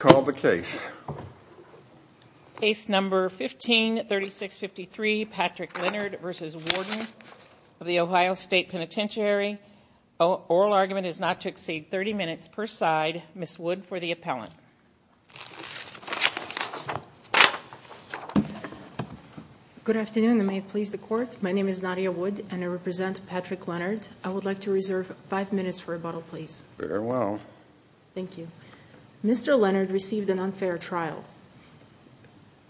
Call the case. Case number 153653 Patrick Leonard v. Warden of the Ohio State Penitentiary. Oral argument is not to exceed 30 minutes per side. Ms. Wood for the appellant. Good afternoon and may it please the court. My name is Nadia Wood and I represent Patrick Leonard. I would like to reserve five minutes for rebuttal please. Very well. Thank you. Mr. Leonard received an unfair trial.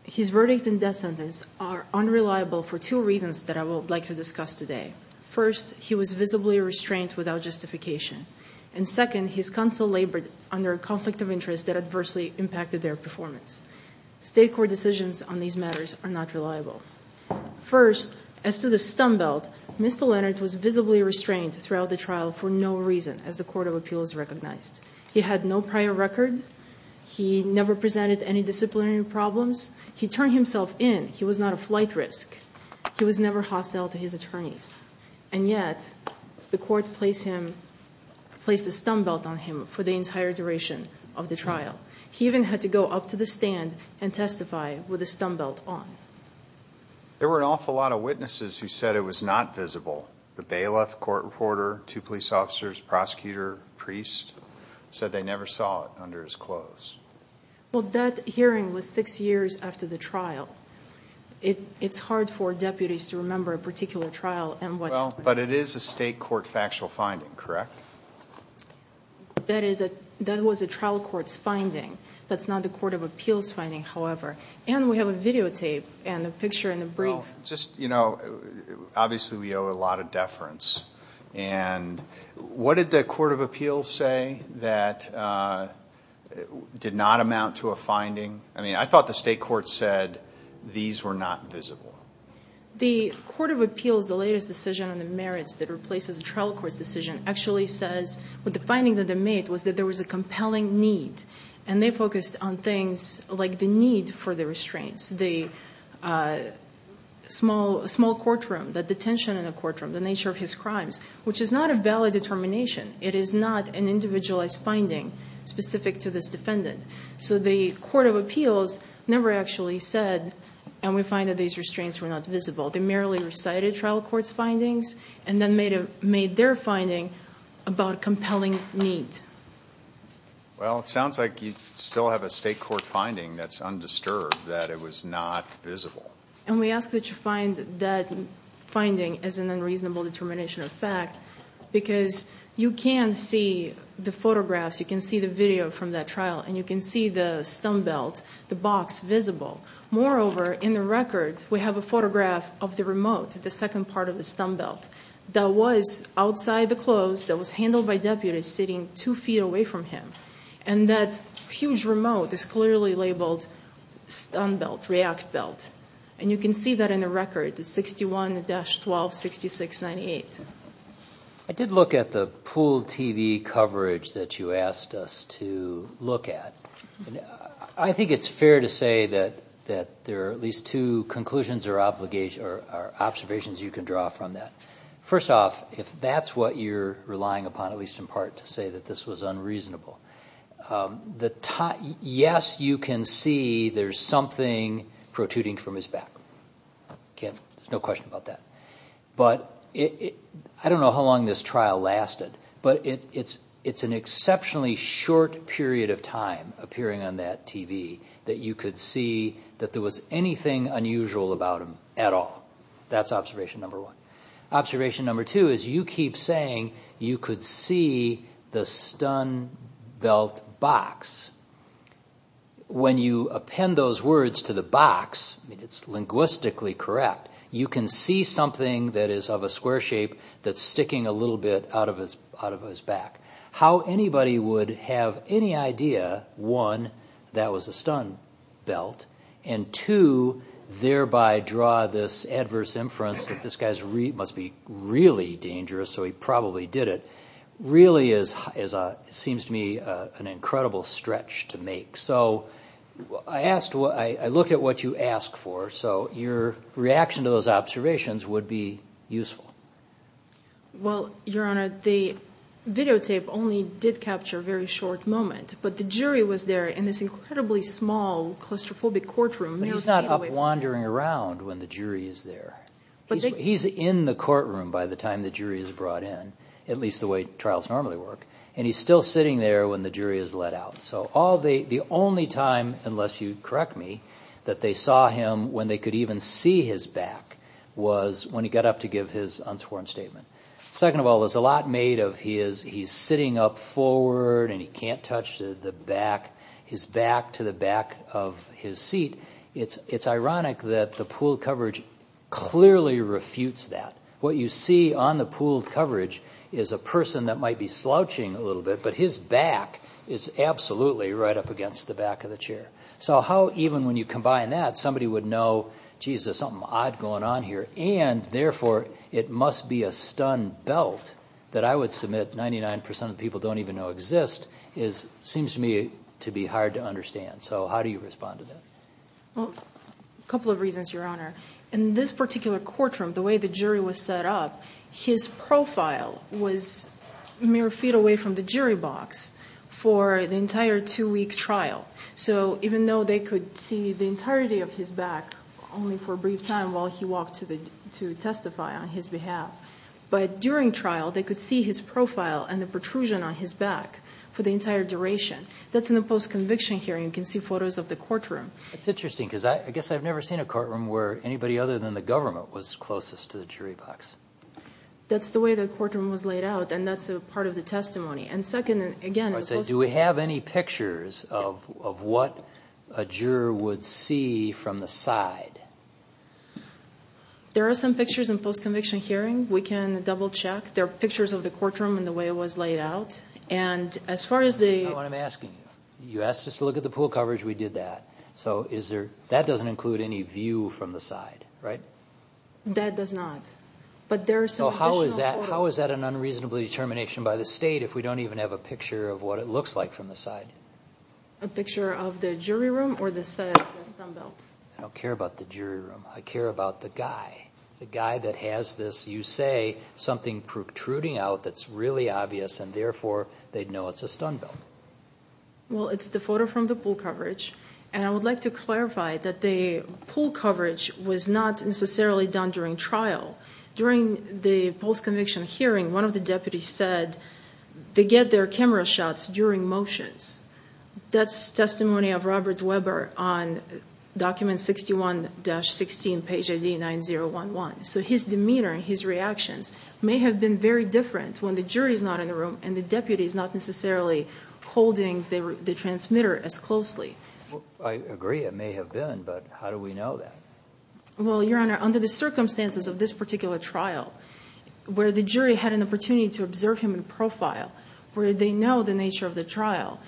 His verdict and death sentence are unreliable for two reasons that I would like to discuss today. First, he was visibly restrained without justification. And second, his counsel labored under a conflict of interest that adversely impacted their performance. State court decisions on these matters are not reliable. First, as to the stumbelt, Mr. Leonard was visibly restrained throughout the trial for no reason as the never presented any disciplinary problems. He turned himself in. He was not a flight risk. He was never hostile to his attorneys. And yet, the court placed the stumbelt on him for the entire duration of the trial. He even had to go up to the stand and testify with a stumbelt on. There were an awful lot of witnesses who said it was not visible. The bailiff, court reporter, two police officers, prosecutor, priest, said they never saw it under his clothes. Well, that hearing was six years after the trial. It's hard for deputies to remember a particular trial. But it is a state court factual finding, correct? That was a trial court's finding. That's not the court of appeals finding, however. And we have a videotape and a picture and a brief. Just, you know, obviously we owe a lot of deference. And what did the court of appeals say that did not amount to a finding? I mean, I thought the state court said these were not visible. The court of appeals, the latest decision on the merits that replaces a trial court's decision, actually says what the finding that they made was that there was a compelling need. And they focused on things like the need for the restraints, the small courtroom, the detention in the courtroom, the nature of his crimes, which is not a valid determination. It is not an individualized finding specific to this defendant. So the court of appeals never actually said, and we find that these restraints were not visible. They merely recited trial court's findings and then made their finding about compelling need. Well, it sounds like you still have a state court finding that's undisturbed that it was not visible. And we ask that you find that finding as an unreasonable determination of fact, because you can see the photographs, you can see the video from that trial, and you can see the stumbelt, the box, visible. Moreover, in the record, we have a photograph of the remote, the second part of the stumbelt, that was outside the close, that was handled by deputies sitting two feet away from him. And that huge remote is clearly labeled stumbelt, react belt. And you can see that in the record, the 61-126698. I did look at the pool TV coverage that you asked us to look at. I think it's fair to say that there are at least two conclusions or observations you can draw from that. First off, if that's what you're relying upon, at least in part to say that this was unreasonable, yes, you can see there's something protruding from his back. There's no question about that. But I don't know how long this trial lasted, but it's an exceptionally short period of time appearing on that TV that you could see that there was anything unusual about him at all. That's observation number one. Observation number two is you keep saying you could see the stumbelt box. When you append those words to the box, it's linguistically correct. You can see something that is of a square shape that's sticking a little bit out of his back. How anybody would have any idea, one, that was a stumbelt, and two, thereby draw this adverse inference that this guy must be really dangerous, so he probably did it, really is, it seems to me, an incredible stretch to make. So I looked at what you asked for, so your reaction to those observations would be useful. Well, Your Honor, the videotape only did capture a very short moment, but the jury was there in this incredibly small claustrophobic courtroom. He's not wandering around when the jury is there. He's in the courtroom by the time the jury is brought in, at least the way trials normally work, and he's still sitting there when the jury is let out. So the only time, unless you correct me, that they saw him when they could even see his back was when he got up to give his unsworn statement. Second of all, there's a lot made of he's sitting up forward and he can't touch his back to the back of his seat. It's ironic that the pool coverage clearly refutes that. What you see on the pool coverage is a person that might be slouching a little bit, but his back is absolutely right up against the back of the chair. So how, even when you combine that, somebody would know, geez, there's something odd going on here, and therefore it must be a stumbelt that I would submit 99% of people don't even exist, seems to me to be hard to understand. So how do you respond to that? Well, a couple of reasons, Your Honor. In this particular courtroom, the way the jury was set up, his profile was mere feet away from the jury box for the entire two-week trial. So even though they could see the entirety of his back only for a brief time while he walked to testify on his behalf, but during trial, they could see his profile and the back for the entire duration. That's in the post-conviction hearing. You can see photos of the courtroom. That's interesting, because I guess I've never seen a courtroom where anybody other than the government was closest to the jury box. That's the way the courtroom was laid out, and that's a part of the testimony. And second, again— I say, do we have any pictures of what a juror would see from the side? There are some pictures in post-conviction hearing. We can double-check. There are pictures of the courtroom and the way it was laid out. And as far as the— No, I'm asking you. You asked us to look at the pool coverage. We did that. So is there—that doesn't include any view from the side, right? That does not. But there are some additional— So how is that an unreasonable determination by the state if we don't even have a picture of what it looks like from the side? A picture of the jury room or the side of the stumbelt? I don't care about the jury room. I care about the guy, the guy that has this. You say something protruding out that's really obvious, and therefore, they'd know it's a stumbelt. Well, it's the photo from the pool coverage, and I would like to clarify that the pool coverage was not necessarily done during trial. During the post-conviction hearing, one of the deputies said they get their camera shots during motions. That's testimony of Robert Weber on document 61-16, page ID 9011. So his demeanor and his reactions may have been very different when the jury is not in the room and the deputy is not necessarily holding the transmitter as closely. I agree. It may have been, but how do we know that? Well, Your Honor, under the circumstances of this particular trial, where the jury had an opportunity to observe him in profile, where they know the nature of the trial,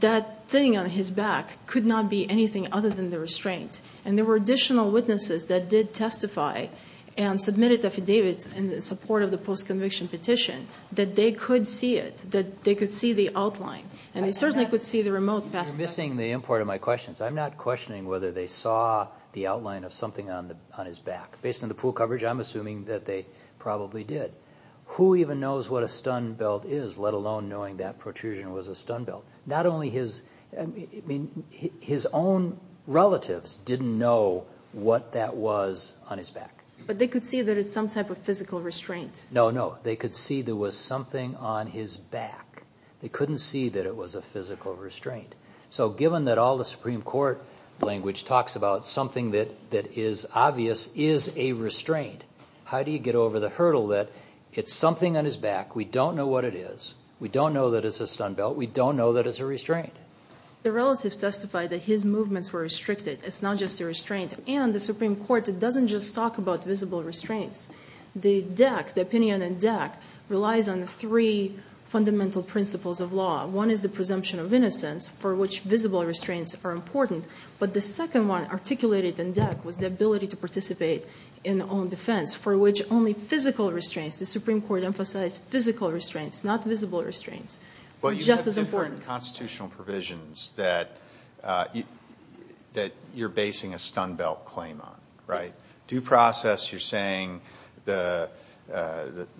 that thing on his back could not be anything other than the restraint. And there were additional witnesses that did testify and submitted affidavits in the support of the post-conviction petition that they could see it, that they could see the outline. And they certainly could see the remote pass. You're missing the import of my questions. I'm not questioning whether they saw the outline of something on his back. Based on the pool coverage, I'm assuming that they probably did. Who even knows what a stumbelt is, let alone knowing that protrusion was a stumbelt? Not only his own relatives didn't know what that was on his back. But they could see that it's some type of physical restraint. No, no. They could see there was something on his back. They couldn't see that it was a physical restraint. So given that all the Supreme Court language talks about something that is obvious is a restraint, how do you get over the hurdle that it's something on his back? We don't know what it is. We don't know that it's a stumbelt. We don't know that it's a restraint. The relatives testified that his movements were restricted. It's not just a restraint. And the Supreme Court doesn't just talk about visible restraints. The DEC, the opinion in DEC, relies on three fundamental principles of law. One is the presumption of innocence, for which visible restraints are important. But the second one articulated in DEC was the ability to participate in own defense, for which only physical restraints. The Supreme Court emphasized physical restraints, not visible restraints. Just as important. Constitutional provisions that you're basing a stumbelt claim on, right? Due process, you're saying the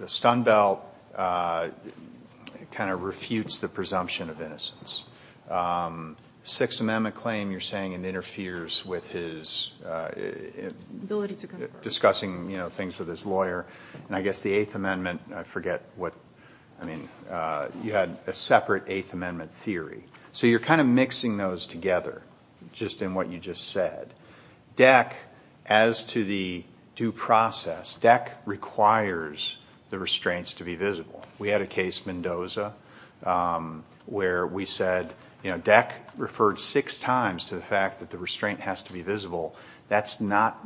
stumbelt kind of refutes the presumption of innocence. Sixth Amendment claim, you're saying it interferes with his discussing things with his lawyer. And I guess the Eighth Amendment, I forget what. You had a separate Eighth Amendment theory. So you're kind of mixing those together, just in what you just said. DEC, as to the due process, DEC requires the restraints to be visible. We had a case, Mendoza, where we said DEC referred six times to the fact that the restraint has to be visible. That's not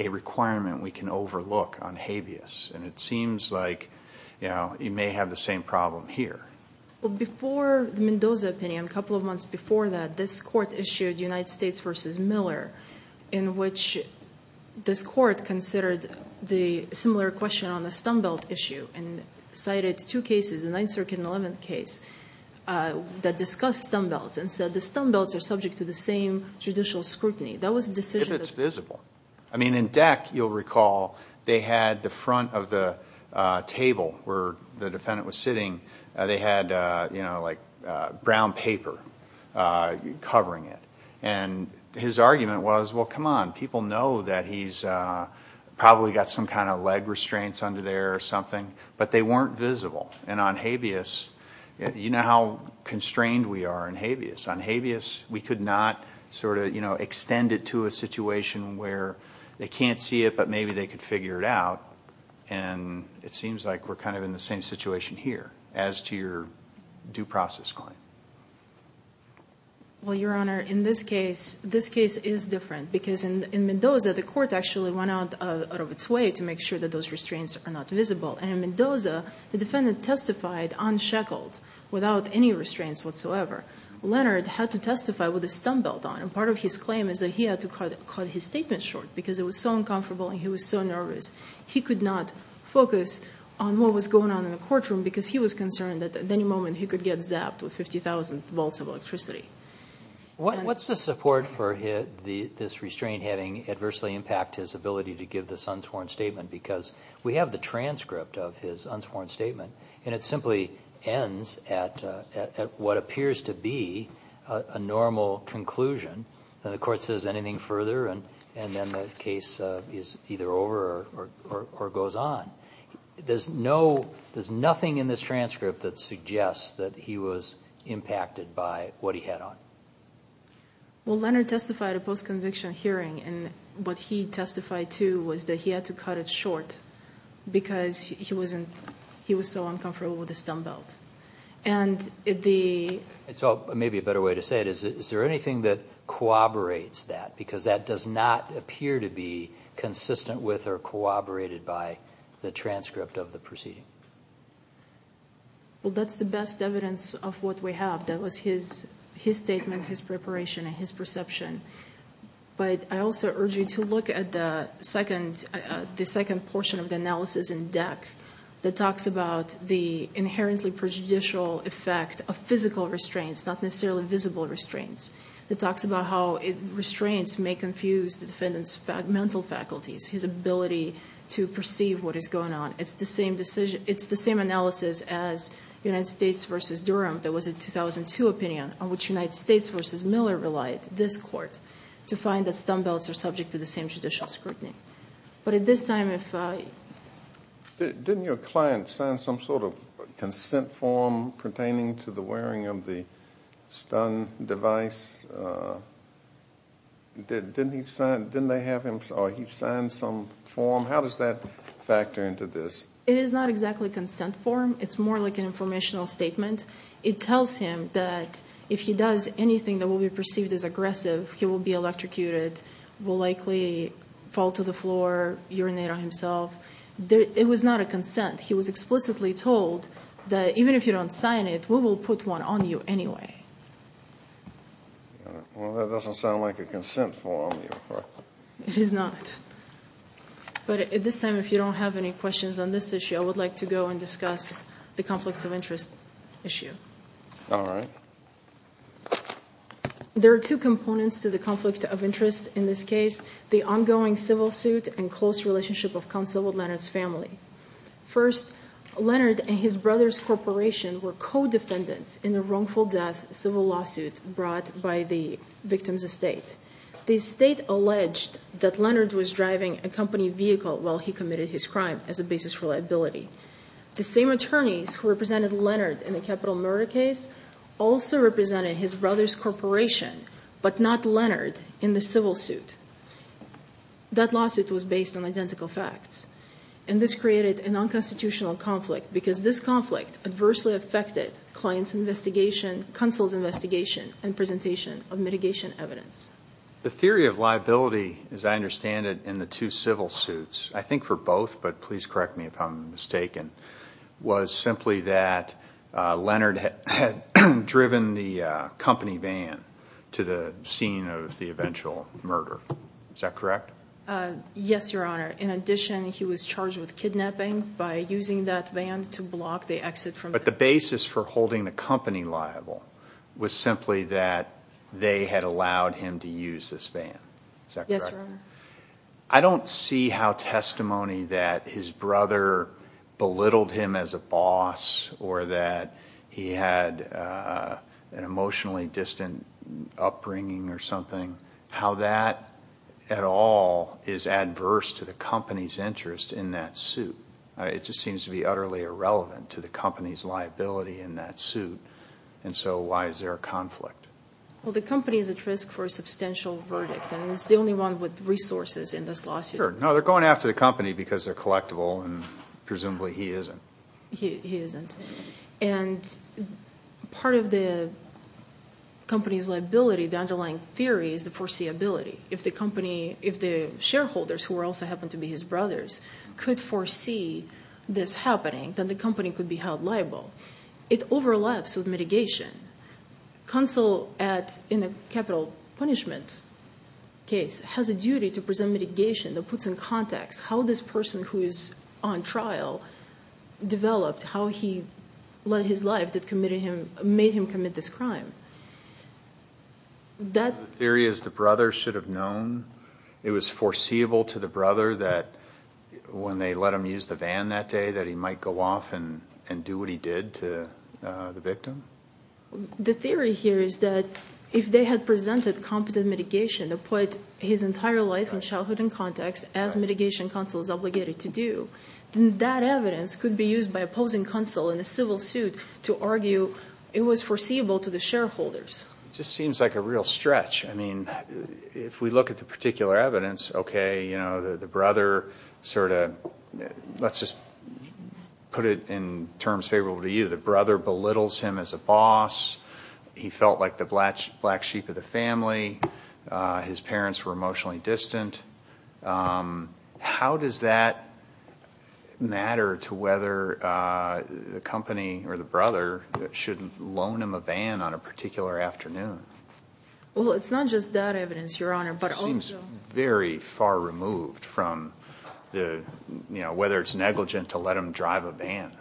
a requirement we can overlook on habeas. And it seems like you may have the same problem here. Well, before the Mendoza opinion, a couple of months before that, this court issued United States v. Miller, in which this court considered the similar question on the stumbelt issue and cited two cases, the 9th Circuit and 11th case, that discussed stumbelts and said the stumbelts are subject to the same judicial scrutiny. That was a decision that's- If it's visible. I mean, in DEC, you'll recall, they had the front of the table where the defendant was sitting, they had brown paper covering it. And his argument was, well, come on. People know that he's probably got some kind of leg restraints under there or something. But they weren't visible. And on habeas, you know how constrained we are in habeas. We could not sort of, you know, extend it to a situation where they can't see it, but maybe they could figure it out. And it seems like we're kind of in the same situation here as to your due process claim. Well, Your Honor, in this case, this case is different because in Mendoza, the court actually went out of its way to make sure that those restraints are not visible. And in Mendoza, the defendant testified unshackled without any restraints whatsoever. Leonard had to testify with a stump belt on. And part of his claim is that he had to cut his statement short because it was so uncomfortable and he was so nervous. He could not focus on what was going on in the courtroom because he was concerned that at any moment he could get zapped with 50,000 volts of electricity. What's the support for this restraint having adversely impact his ability to give this unsworn statement? Because we have the transcript of his unsworn statement, and it simply ends at what appears to be a normal conclusion. And the court says anything further, and then the case is either over or goes on. There's nothing in this transcript that suggests that he was impacted by what he had on. Well, Leonard testified at a post-conviction hearing. And what he testified to was that he had to cut it short because he was so uncomfortable with the stump belt. And the... And so maybe a better way to say it is, is there anything that corroborates that? Because that does not appear to be consistent with or corroborated by the transcript of the proceeding. Well, that's the best evidence of what we have. That was his statement, his preparation, and his perception. But I also urge you to look at the second portion of the analysis in DEC that talks about the inherently prejudicial effect of physical restraints, not necessarily visible restraints. It talks about how restraints may confuse the defendant's mental faculties, his ability to perceive what is going on. It's the same analysis as United States v. Durham. There was a 2002 opinion on which United States v. Miller relied, this court, to find that stump belts are subject to the same judicial scrutiny. But at this time, if... Didn't your client sign some sort of consent form pertaining to the wearing of the stun device? Didn't he sign... Didn't they have him... Or he signed some form? How does that factor into this? It is not exactly a consent form. It's more like an informational statement. It tells him that if he does anything that will be perceived as aggressive, he will be electrocuted, will likely fall to the floor, urinate on himself. It was not a consent. He was explicitly told that even if you don't sign it, we will put one on you anyway. Well, that doesn't sound like a consent form. It is not. But at this time, if you don't have any questions on this issue, I would like to go and discuss the conflicts of interest issue. All right. There are two components to the conflict of interest in this case, the ongoing civil suit and close relationship of counsel with Leonard's family. First, Leonard and his brother's corporation were co-defendants in the wrongful death civil lawsuit brought by the victim's estate. The estate alleged that Leonard was driving a company vehicle while he committed his crime as a basis for liability. The same attorneys who represented Leonard in the capital murder case also represented his brother's corporation, but not Leonard in the civil suit. That lawsuit was based on identical facts. And this created a non-constitutional conflict because this conflict adversely affected client's investigation, counsel's investigation, and presentation of mitigation evidence. The theory of liability, as I understand it, in the two civil suits, I think for both, but please correct me if I'm mistaken, was simply that Leonard had driven the company van to the scene of the eventual murder. Is that correct? Yes, Your Honor. In addition, he was charged with kidnapping by using that van to block the exit from- But the basis for holding the company liable was simply that they had allowed him to use this van. Is that correct? Yes, Your Honor. I don't see how testimony that his brother belittled him as a boss or that he had an emotionally distant upbringing or something, how that at all is adverse to the company's interest in that suit. It just seems to be utterly irrelevant to the company's liability in that suit. And so why is there a conflict? Well, the company is at risk for a substantial verdict. And it's the only one with resources in this lawsuit. Sure. No, they're going after the company because they're collectible, and presumably he isn't. He isn't. And part of the company's liability, the underlying theory, is the foreseeability. If the company, if the shareholders, who also happen to be his brothers, could foresee this happening, then the company could be held liable. It overlaps with mitigation. Counsel at, in a capital punishment case, has a duty to present mitigation that puts in context how this person who is on trial developed, how he led his life that made him commit this crime. The theory is the brother should have known. It was foreseeable to the brother that when they let him use the van that day that he The theory here is that if they had presented competent mitigation to put his entire life and childhood in context, as mitigation counsel is obligated to do, then that evidence could be used by opposing counsel in a civil suit to argue it was foreseeable to the shareholders. Just seems like a real stretch. I mean, if we look at the particular evidence, okay, you know, the brother sort of, let's just put it in terms favorable to you. The brother belittles him as a boss. He felt like the black sheep of the family. His parents were emotionally distant. How does that matter to whether the company or the brother should loan him a van on a particular afternoon? Well, it's not just that evidence, Your Honor, but also Seems very far removed from the, you know, whether it's negligent to let him drive a van.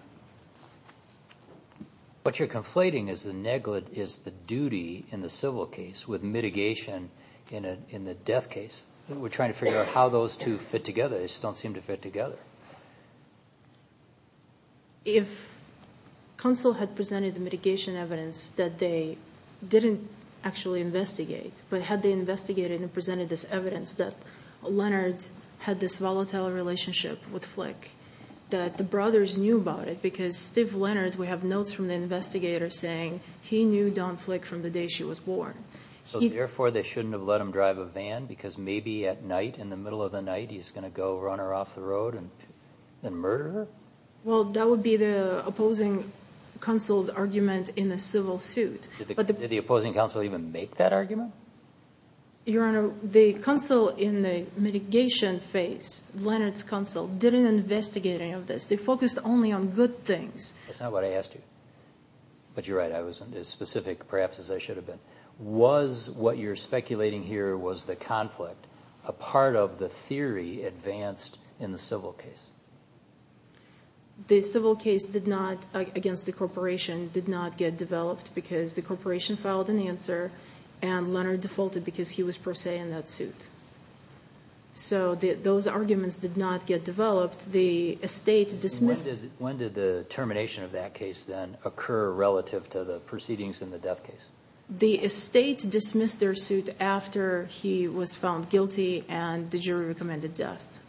What you're conflating is the duty in the civil case with mitigation in the death case. We're trying to figure out how those two fit together. They just don't seem to fit together. If counsel had presented the mitigation evidence that they didn't actually investigate, but had they investigated and presented this evidence that Leonard had this volatile relationship with Flick, that the brothers knew about it because Steve Leonard, we have notes from the investigator saying he knew Don Flick from the day she was born. So, therefore, they shouldn't have let him drive a van because maybe at night, in the middle of the night, he's going to go run her off the road and murder her? Well, that would be the opposing counsel's argument in the civil suit. Did the opposing counsel even make that argument? Your Honor, the counsel in the mitigation phase, Leonard's counsel, didn't investigate any of this. They focused only on good things. That's not what I asked you, but you're right. I wasn't as specific, perhaps, as I should have been. Was what you're speculating here, was the conflict a part of the theory advanced in the civil case? The civil case did not, against the corporation, did not get developed because the corporation filed an answer and Leonard defaulted because he was, per se, in that suit. So, those arguments did not get developed. The estate dismissed... When did the termination of that case, then, occur relative to the proceedings in the death case? The estate dismissed their suit after he was found guilty and the jury recommended death.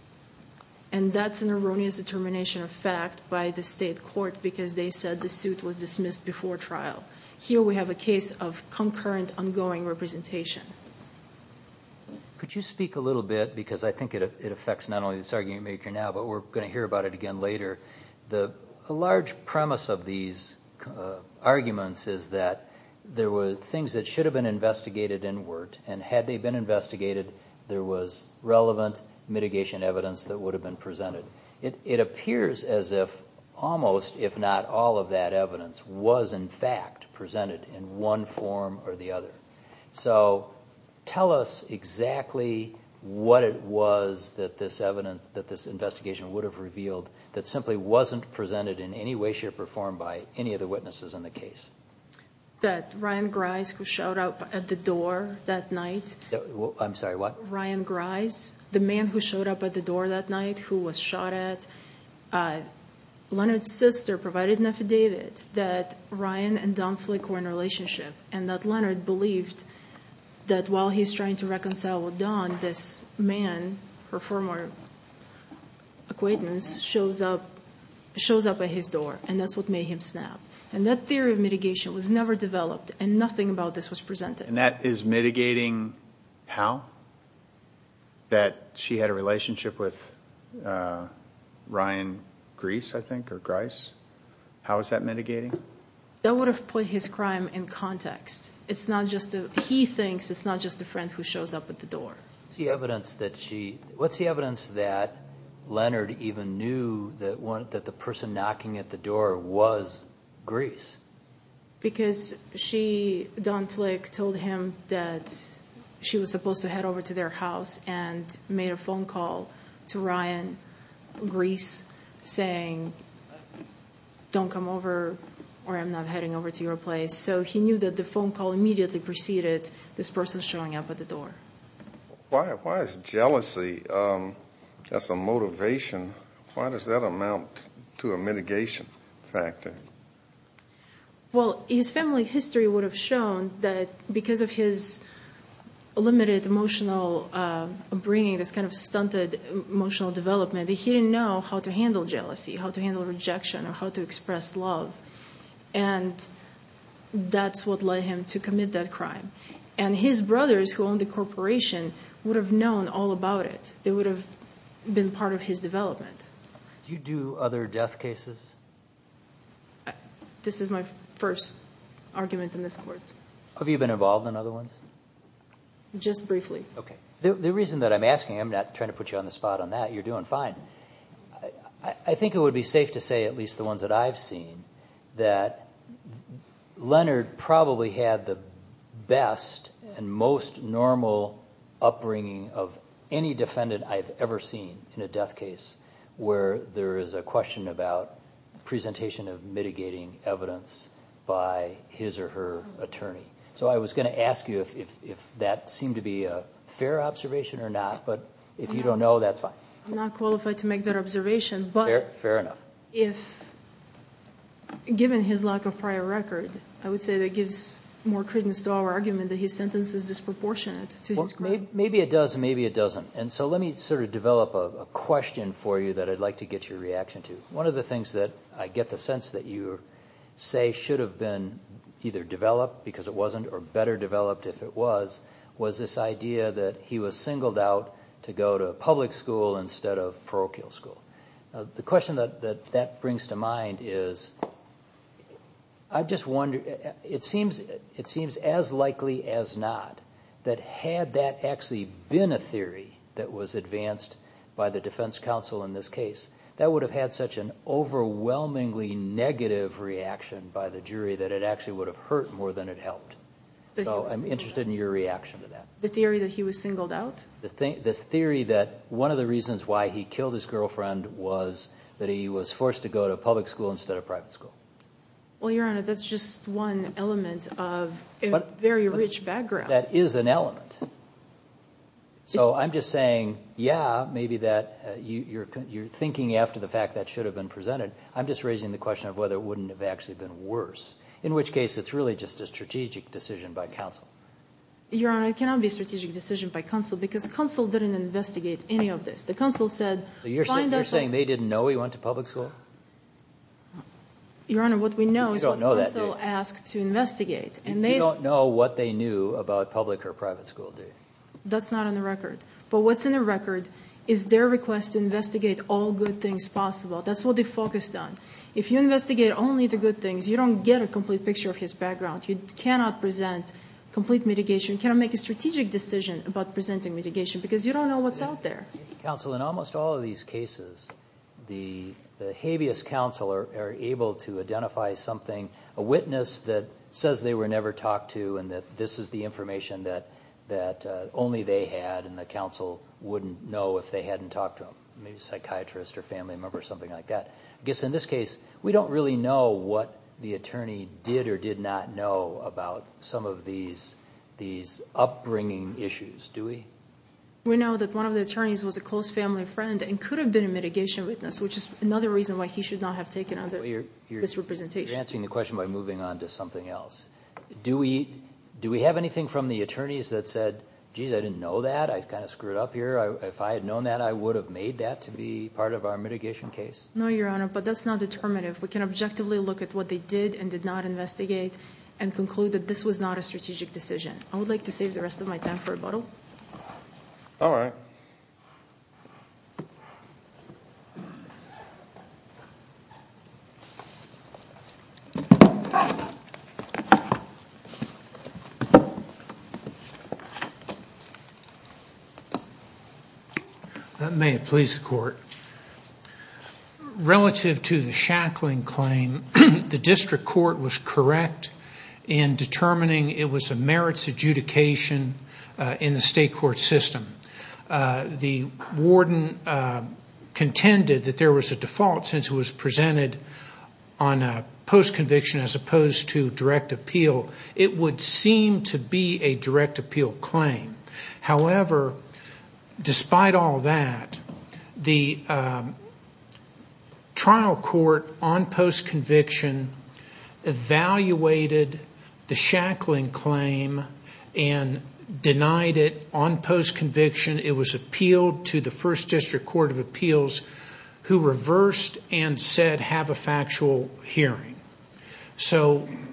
And that's an erroneous determination of fact by the state court because they said the suit was dismissed before trial. Here we have a case of concurrent, ongoing representation. Could you speak a little bit? Because I think it affects not only this argument you're making now, but we're going to hear about it again later. The large premise of these arguments is that there were things that should have been investigated and worked, and had they been investigated, there was relevant mitigation evidence that would have been presented. It appears as if almost, if not all, of that evidence was, in fact, presented in one form or the other. So, tell us exactly what it was that this investigation would have revealed that simply wasn't presented in any way, shape, or form by any of the witnesses in the case. That Ryan Grise, who showed up at the door that night... I'm sorry, what? Ryan Grise, the man who showed up at the door that night, who was shot at. Leonard's sister provided an affidavit that Ryan and Don Flick were in a relationship and that Leonard believed that while he's trying to reconcile with Don, this man, her former acquaintance, shows up at his door and that's what made him snap. And that theory of mitigation was never developed and nothing about this was presented. And that is mitigating how? That she had a relationship with Ryan Grise, I think, or Grise? How is that mitigating? That would have put his crime in context. He thinks it's not just a friend who shows up at the door. What's the evidence that Leonard even knew that the person knocking at the door was Grise? Because she, Don Flick, told him that she was supposed to head over to their house and made a phone call to Ryan Grise saying, don't come over or I'm not heading over to your place. So he knew that the phone call immediately preceded this person showing up at the door. Why is jealousy, that's a motivation, why does that amount to a mitigation factor? Well, his family history would have shown that because of his limited emotional upbringing, this kind of stunted emotional development, he didn't know how to handle jealousy, how to handle rejection or how to express love. And that's what led him to commit that crime. And his brothers who owned the corporation would have known all about it. They would have been part of his development. Do you do other death cases? I, this is my first argument in this court. Have you been involved in other ones? Just briefly. Okay. The reason that I'm asking, I'm not trying to put you on the spot on that. You're doing fine. I think it would be safe to say, at least the ones that I've seen, that Leonard probably had the best and most normal upbringing of any defendant I've ever seen in a death case where there is a question about presentation of mitigating evidence by his or her attorney. So I was going to ask you if that seemed to be a fair observation or not, but if you don't know, that's fine. I'm not qualified to make that observation, but... Fair enough. If given his lack of prior record, I would say that gives more credence to our argument that his sentence is disproportionate to his crime. Maybe it does, maybe it doesn't. And so let me sort of develop a question for you that I'd like to get your reaction to. One of the things that I get the sense that you say should have been either developed, because it wasn't, or better developed if it was, was this idea that he was singled out to go to public school instead of parochial school. The question that that brings to mind is, I'm just wondering, it seems as likely as not, that had that actually been a theory that was advanced by the defense counsel in this case, that would have had such an overwhelmingly negative reaction by the jury that it actually would have hurt more than it helped. So I'm interested in your reaction to that. The theory that he was singled out? The theory that one of the reasons why he killed his girlfriend was that he was forced to go to public school instead of private school. Well, Your Honor, that's just one element of a very rich background. That is an element. So I'm just saying, yeah, maybe you're thinking after the fact that should have been presented. I'm just raising the question of whether it wouldn't have actually been worse, in which case it's really just a strategic decision by counsel. Your Honor, it cannot be a strategic decision by counsel, because counsel didn't investigate any of this. You're saying they didn't know he went to public school? Your Honor, what we know is what counsel asked to investigate. And they don't know what they knew about public or private school, do they? That's not on the record. But what's in the record is their request to investigate all good things possible. That's what they focused on. If you investigate only the good things, you don't get a complete picture of his background. You cannot present complete mitigation. You cannot make a strategic decision about presenting mitigation, because you don't know what's out there. Counsel, in almost all of these cases, the habeas counsel are able to identify something, a witness that says they were never talked to, and that this is the information that only they had, and the counsel wouldn't know if they hadn't talked to him, maybe a psychiatrist or family member or something like that. I guess in this case, we don't really know what the attorney did or did not know about some of these upbringing issues, do we? We know that one of the attorneys was a close family friend and could have been a mitigation witness, which is another reason why he should not have taken on this representation. You're answering the question by moving on to something else. Do we have anything from the attorneys that said, jeez, I didn't know that, I kind of screwed up here? If I had known that, I would have made that to be part of our mitigation case? No, Your Honor, but that's not determinative. We can objectively look at what they did and did not investigate and conclude that this was not a strategic decision. I would like to save the rest of my time for rebuttal. All right. That may please the court. Relative to the Shackling claim, the district court was correct in determining it was a merits adjudication in the state court system. The warden contended that there was a default since it was presented on a post-conviction as opposed to direct appeal. It would seem to be a direct appeal claim. However, despite all that, the trial court on post-conviction evaluated the Shackling claim and denied it on post-conviction. It was appealed to the first district court of appeals who reversed and said, have a factual hearing.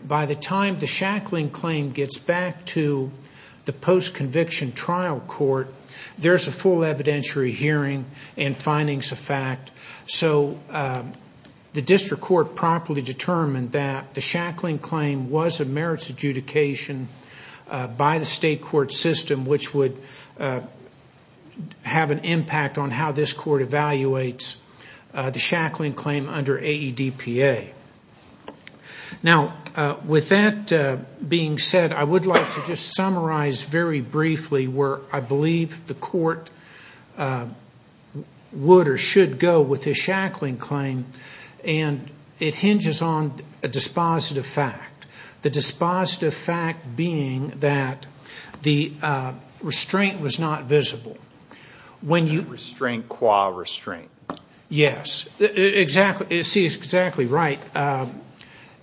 By the time the Shackling claim gets back to the post-conviction trial court, there's a full evidentiary hearing and findings of fact. So the district court properly determined that the Shackling claim was a merits adjudication by the state court system, which would have an impact on how this court evaluates the Shackling claim under AEDPA. Now, with that being said, I would like to just summarize very briefly where I believe the court would or should go with the Shackling claim. And it hinges on a dispositive fact. The dispositive fact being that the restraint was not visible. When you- Restraint, qua restraint. Yes, exactly. It's exactly right.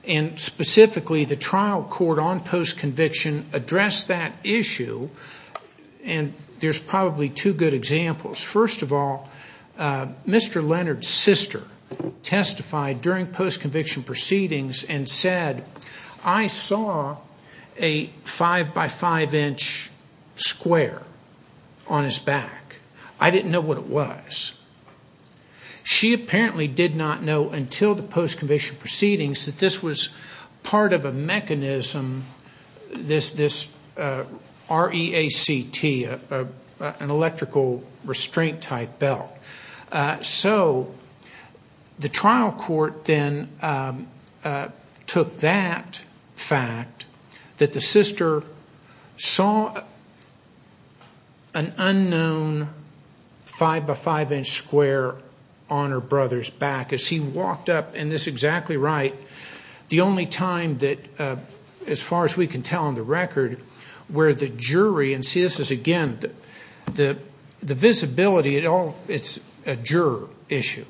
And specifically, the trial court on post-conviction addressed that issue. And there's probably two good examples. First of all, Mr. Leonard's sister testified during post-conviction proceedings and said, I saw a five by five inch square on his back. I didn't know what it was. She apparently did not know until the post-conviction proceedings that this was EACT, an electrical restraint type belt. So the trial court then took that fact that the sister saw an unknown five by five inch square on her brother's back as he walked up, and this is exactly right, the only time that, as far as we can tell on the record, where the jury, and see, this is again, the visibility, it's a juror issue.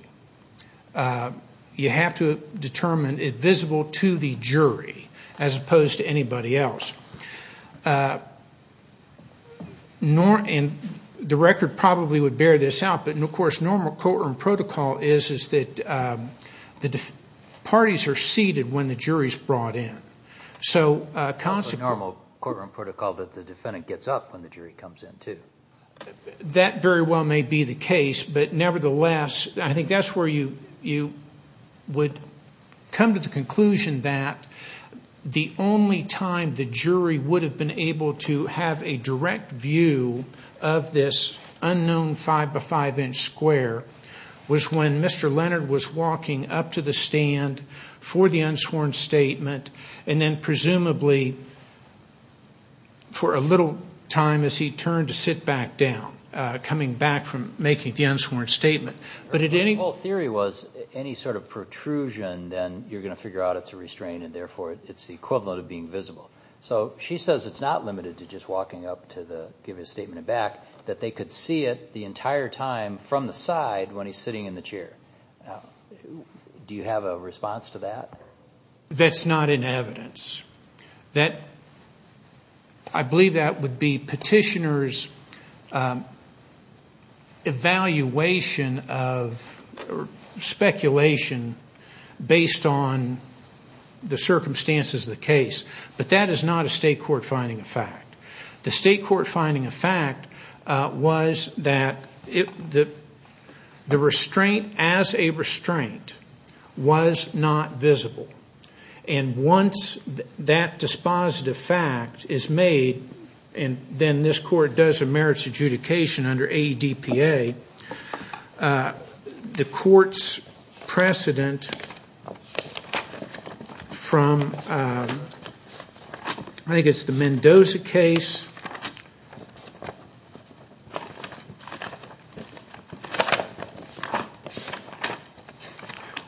You have to determine it visible to the jury as opposed to anybody else. And the record probably would bear this out, but of course, normal courtroom protocol is that the parties are seated when the jury's brought in. So a consequence- Normal courtroom protocol that the defendant gets up when the jury comes in too. That very well may be the case, but nevertheless, I think that's where you would come to the conclusion that the only time the jury would have been able to have a direct view of this unknown five by five inch square was when Mr. Leonard was walking up to the stand for the unsworn statement, and then presumably for a little time as he turned to sit back down, coming back from making the unsworn statement. But the whole theory was any sort of protrusion, then you're going to figure out it's a restraint and therefore it's the equivalent of being visible. So she says it's not limited to just walking up to give his statement back, that they could see it the entire time from the side when he's sitting in the chair. Now, do you have a response to that? That's not in evidence. I believe that would be petitioner's evaluation of speculation based on the circumstances of the case, but that is not a state court finding of fact. The state court finding of fact was that the restraint as a restraint was not visible. And once that dispositive fact is made, and then this court does a merits adjudication under ADPA, the court's precedent from, I think it's the Mendoza case.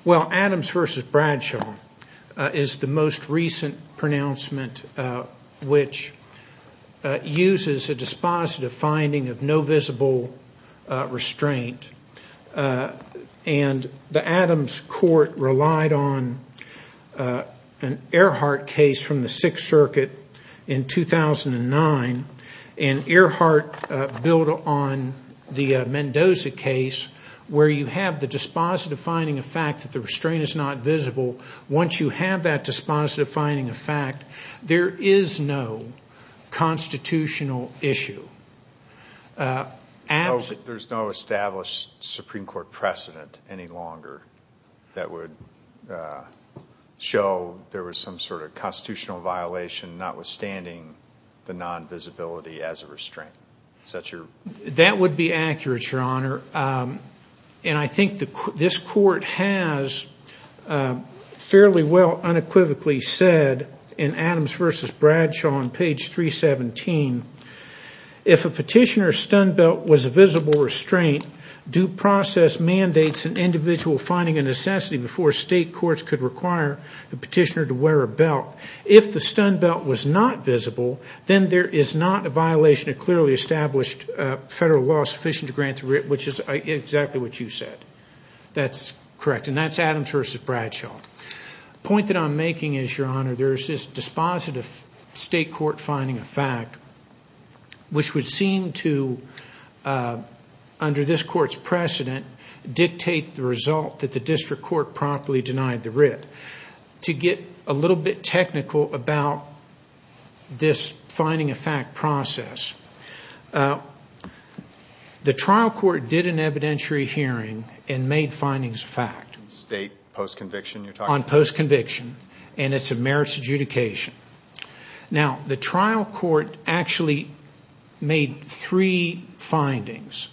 Well, Adams versus Bradshaw is the most recent pronouncement which uses a dispositive finding of no visible restraint, and the Adams court relied on an Earhart case from the Sixth Circuit in 2009, and Earhart built on the Mendoza case where you have the dispositive finding of fact that the restraint is not visible. Once you have that dispositive finding of fact, there is no constitutional issue. There's no established Supreme Court precedent any longer that would show there was some sort of constitutional violation notwithstanding the non-visibility as a restraint. That would be accurate, Your Honor. And I think this court has fairly well unequivocally said in Adams versus Bradshaw on page 317, if a petitioner's stun belt was a visible restraint, due process mandates an individual finding a necessity before state courts could require the petitioner to wear a belt. If the stun belt was not visible, then there is not a violation of clearly established federal law sufficient to grant through it, which is exactly what you said. That's correct. And that's Adams versus Bradshaw. Point that I'm making is, Your Honor, there's this dispositive state court finding of fact which would seem to, under this court's precedent, dictate the result that the district court promptly denied the writ. To get a little bit technical about this finding of fact process, the trial court did an evidentiary hearing and made findings of fact. State post-conviction you're talking about? On post-conviction, and it's a merits adjudication. Now, the trial court actually made three findings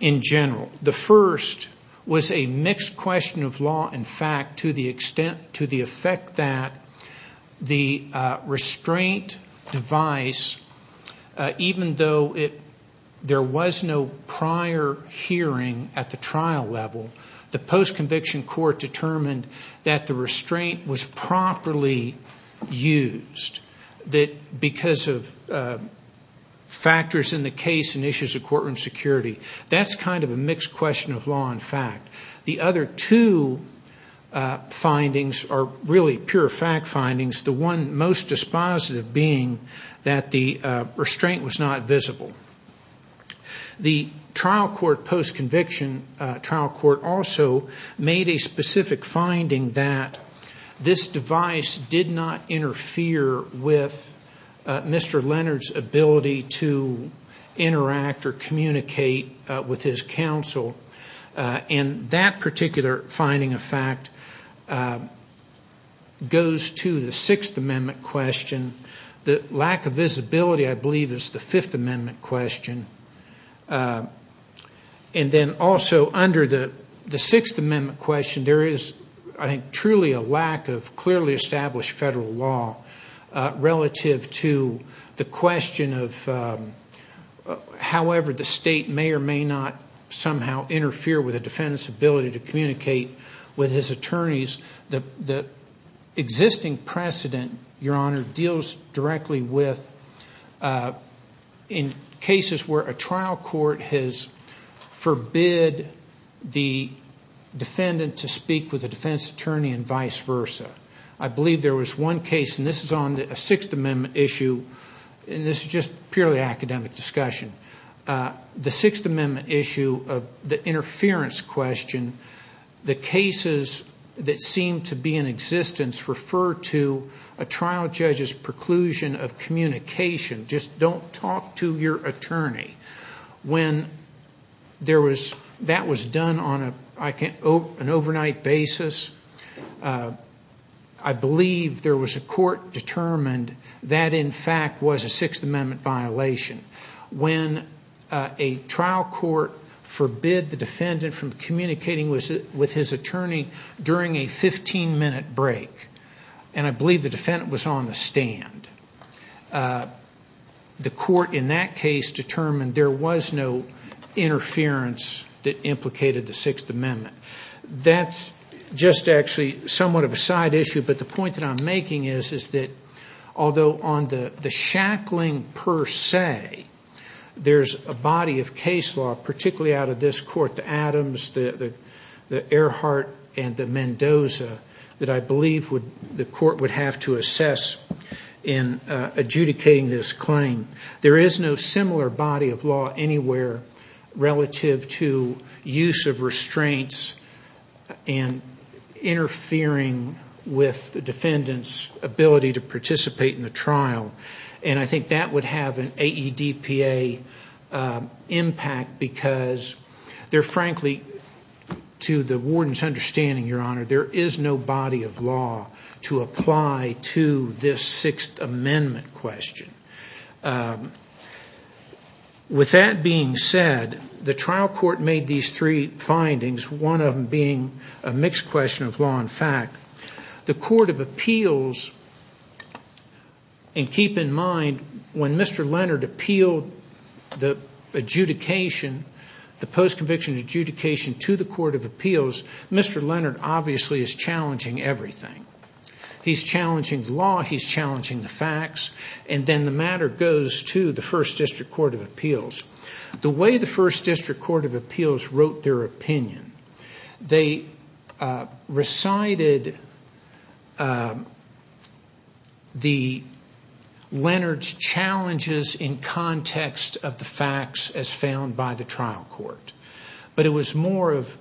in general. The first was a mixed question of law and fact to the effect that the restraint device, even though there was no prior hearing at the trial level, the post-conviction court determined that the restraint was properly used because of factors in the case and issues of courtroom security. That's kind of a mixed question of law and fact. The other two findings are really pure fact findings, the one most dispositive being that the restraint was not visible. The trial court post-conviction, trial court also made a specific finding that this device did not interfere with Mr. Leonard's ability to interact or communicate with his counsel. And that particular finding of fact goes to the Sixth Amendment question. The lack of visibility, I believe, is the Fifth Amendment question. And then also under the Sixth Amendment question, there is, I think, truly a lack of clearly established federal law relative to the question of however the state may or may not somehow interfere with a defendant's ability to communicate with his attorneys. The existing precedent, Your Honor, deals directly with in cases where a trial court has forbid the defendant to speak with a defense attorney and vice versa. I believe there was one case, and this is on a Sixth Amendment issue, and this is just purely academic discussion. The Sixth Amendment issue of the interference question, the cases that seem to be in existence refer to a trial judge's preclusion of communication. Just don't talk to your attorney. When that was done on an overnight basis, I believe there was a court determined that in fact was a Sixth Amendment violation. When a trial court forbid the defendant from communicating with his attorney during a 15 minute break, and I believe the defendant was on the stand, the court in that case determined there was no interference that implicated the Sixth Amendment. That's just actually somewhat of a side issue, but the point that I'm making is that although on the shackling per se, there's a body of case law, particularly out of this court, the Adams, the Earhart, and the Mendoza, that I believe the court would have to assess in adjudicating this claim. There is no similar body of law anywhere relative to use of restraints and interfering with defendant's ability to participate in the trial. I think that would have an AEDPA impact because they're frankly, to the warden's understanding, Your Honor, there is no body of law to apply to this Sixth Amendment question. With that being said, the trial court made these three findings, one of them being a mixed question of law and fact. The Court of Appeals, and keep in mind when Mr. Leonard appealed the adjudication, the post-conviction adjudication to the Court of Appeals, Mr. Leonard obviously is challenging everything. He's challenging the law, he's challenging the facts, and then the matter goes to the First District Court of Appeals. The way the First District Court of Appeals wrote their opinion, they recited the Leonard's challenges in context of the facts as found by the trial court, but it was more of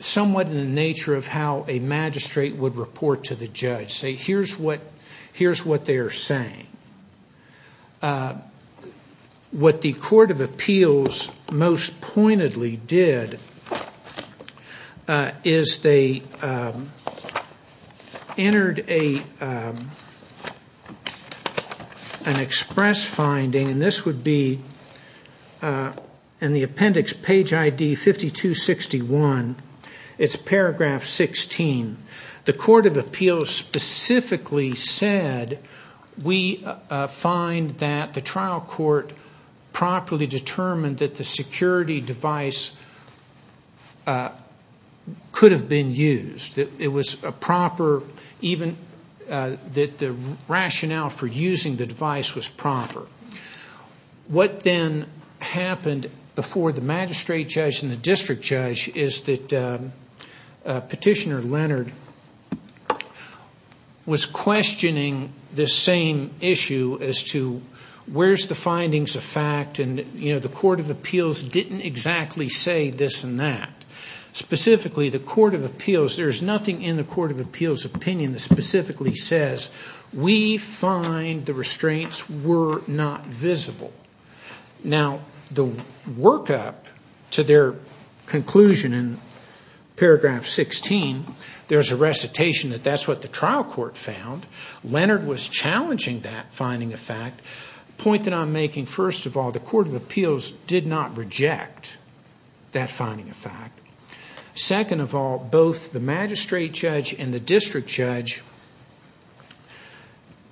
somewhat in the nature of how a magistrate would report to the judge, say, The Court of Appeals most pointedly did is they entered an express finding, and this would be in the appendix, page ID 5261, it's paragraph 16. The Court of Appeals specifically said, we find that the trial court properly determined that the security device could have been used, that the rationale for using the device was proper. What then happened before the magistrate judge and the district judge is that Petitioner Leonard was questioning this same issue as to where's the findings of fact, and the Court of Appeals didn't exactly say this and that. Specifically, the Court of Appeals, there's nothing in the Court of Appeals' opinion that specifically says, we find the restraints were not visible. Now, the workup to their conclusion in paragraph 16, there's a recitation that that's what the trial court found. Leonard was challenging that finding of fact. The point that I'm making, first of all, the Court of Appeals did not reject that finding of fact. Second of all, both the magistrate judge and the district judge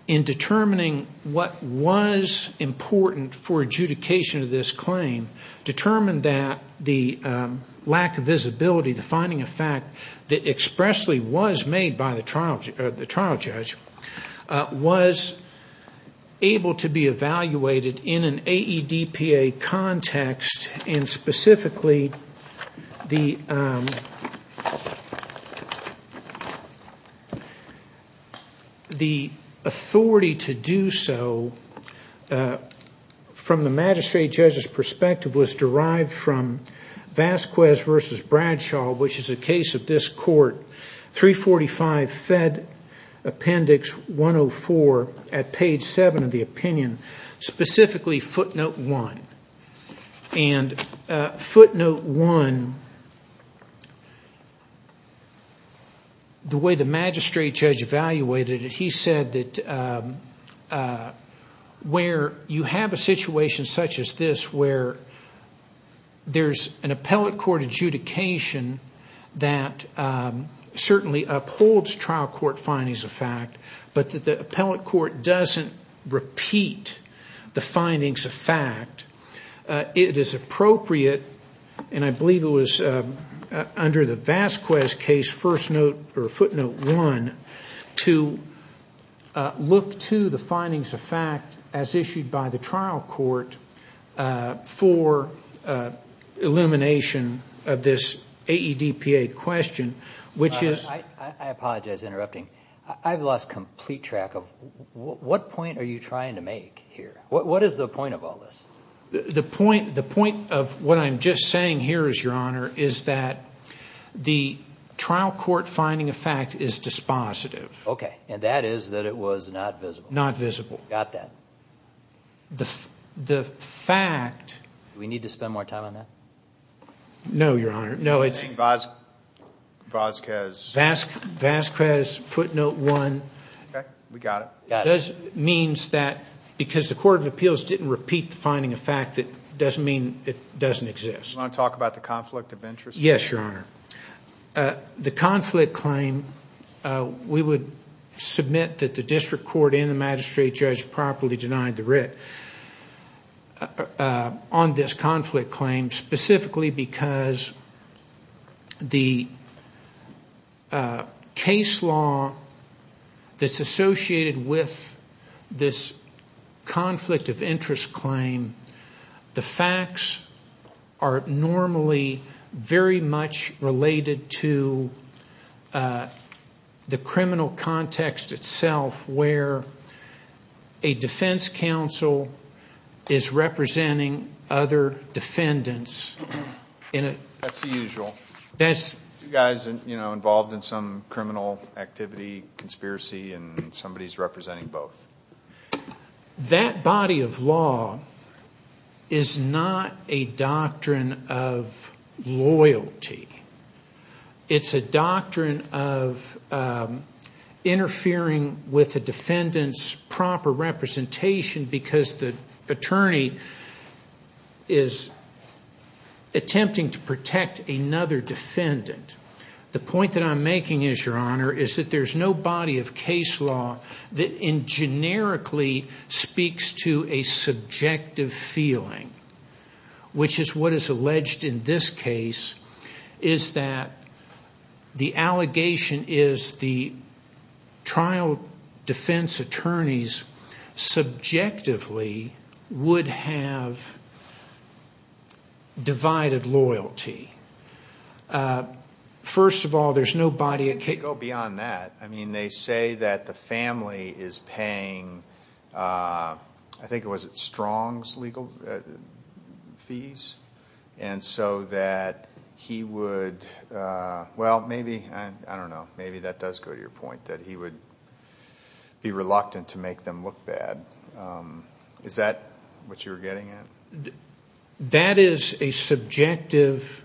in determining what was important for adjudication of this claim, determined that the lack of visibility, the finding of fact that expressly was made by the trial judge, was able to be evaluated in an AEDPA context. And specifically, the authority to do so from the magistrate judge's perspective was derived from Vasquez v. Bradshaw, which is a case of this court, 345 Fed Appendix 104 at page 7 of the opinion, specifically footnote 1. And footnote 1, the way the magistrate judge evaluated it, he said that where you have a situation such as this where there's an appellate court adjudication that certainly upholds trial court findings of fact, but that the appellate court doesn't repeat the findings of fact, it is appropriate, and I believe it was under the Vasquez case, footnote 1, to look to the findings of fact as issued by the trial court for elimination of this AEDPA question, which is- I apologize for interrupting. I've lost complete track of what point are you trying to make here? What is the point of all this? The point of what I'm just saying here is, Your Honor, is that the trial court finding of fact is dispositive. Okay. And that is that it was not visible. Not visible. Got that. The fact- Do we need to spend more time on that? No, Your Honor. No, it's- Vasquez footnote 1- Okay. We got it. Means that because the court of appeals didn't repeat the finding of fact, it doesn't mean it doesn't exist. Do you want to talk about the conflict of interest? Yes, Your Honor. The conflict claim, we would submit that the district court and the magistrate judge properly denied the writ on this conflict claim specifically because the case law that's associated with this conflict of interest claim, the facts are normally very much related to the criminal context itself where a defense counsel is representing other defendants in a- That's the usual. You guys involved in some criminal activity, conspiracy, and somebody's representing both. That body of law is not a doctrine of loyalty. It's a doctrine of interfering with a defendant's proper representation because the attorney is attempting to protect another defendant. The point that I'm making is, Your Honor, is that there's no body of case law that in is that the allegation is the trial defense attorneys subjectively would have divided loyalty. First of all, there's no body of case- Go beyond that. I mean, they say that the family is paying, I think it was at Strong's legal fees, and so that he would, well, maybe, I don't know. Maybe that does go to your point that he would be reluctant to make them look bad. Is that what you're getting at? That is a subjective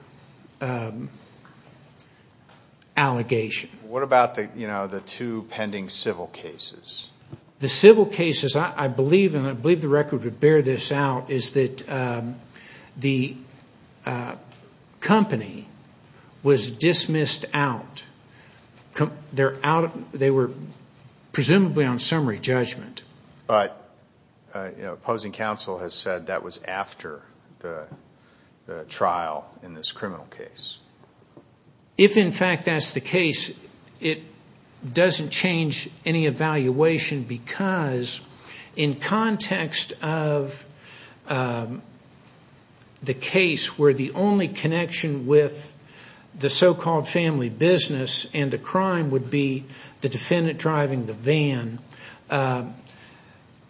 allegation. What about the two pending civil cases? The civil cases, I believe, and I believe the record would bear this out, is that the company was dismissed out. They were presumably on summary judgment. But opposing counsel has said that was after the trial in this criminal case. If, in fact, that's the case, it doesn't change any evaluation because in context of the case where the only connection with the so-called family business and the crime would be the defendant driving the van-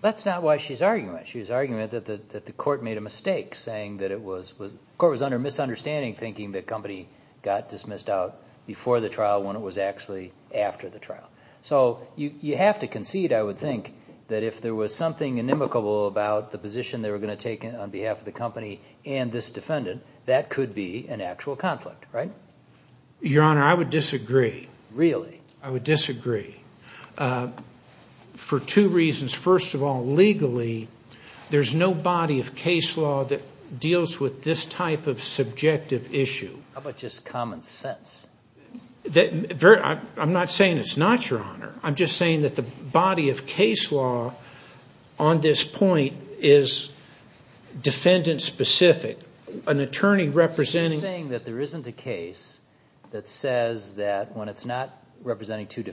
That's not why she's arguing that. She's arguing that the court made a mistake saying that it was, the court was under misunderstanding thinking the company got dismissed out before the trial when it was actually after the trial. So you have to concede, I would think, that if there was something inimicable about the position they were going to take on behalf of the company and this defendant, that could be an actual conflict, right? Your Honor, I would disagree. Really? I would disagree for two reasons. First of all, legally, there's no body of case law that deals with this type of subjective issue. How about just common sense? I'm not saying it's not, Your Honor. I'm just saying that the body of case law on this point is defendant-specific. An attorney representing- You're saying that there isn't a case that says that when it's not representing two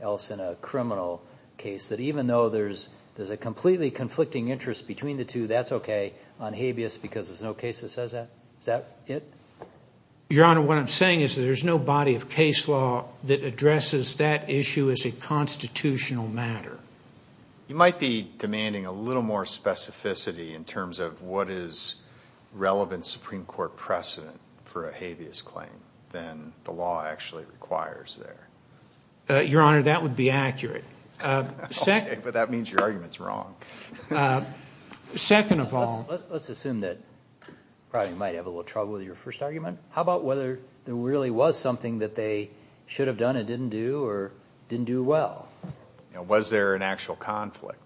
else in a criminal case, that even though there's a completely conflicting interest between the two, that's okay on habeas because there's no case that says that? Is that it? Your Honor, what I'm saying is that there's no body of case law that addresses that issue as a constitutional matter. You might be demanding a little more specificity in terms of what is relevant Supreme Court precedent for a habeas claim than the law actually requires there. Your Honor, that would be accurate. But that means your argument's wrong. Second of all- Let's assume that probably you might have a little trouble with your first argument. How about whether there really was something that they should have done and didn't do, or didn't do well? Was there an actual conflict?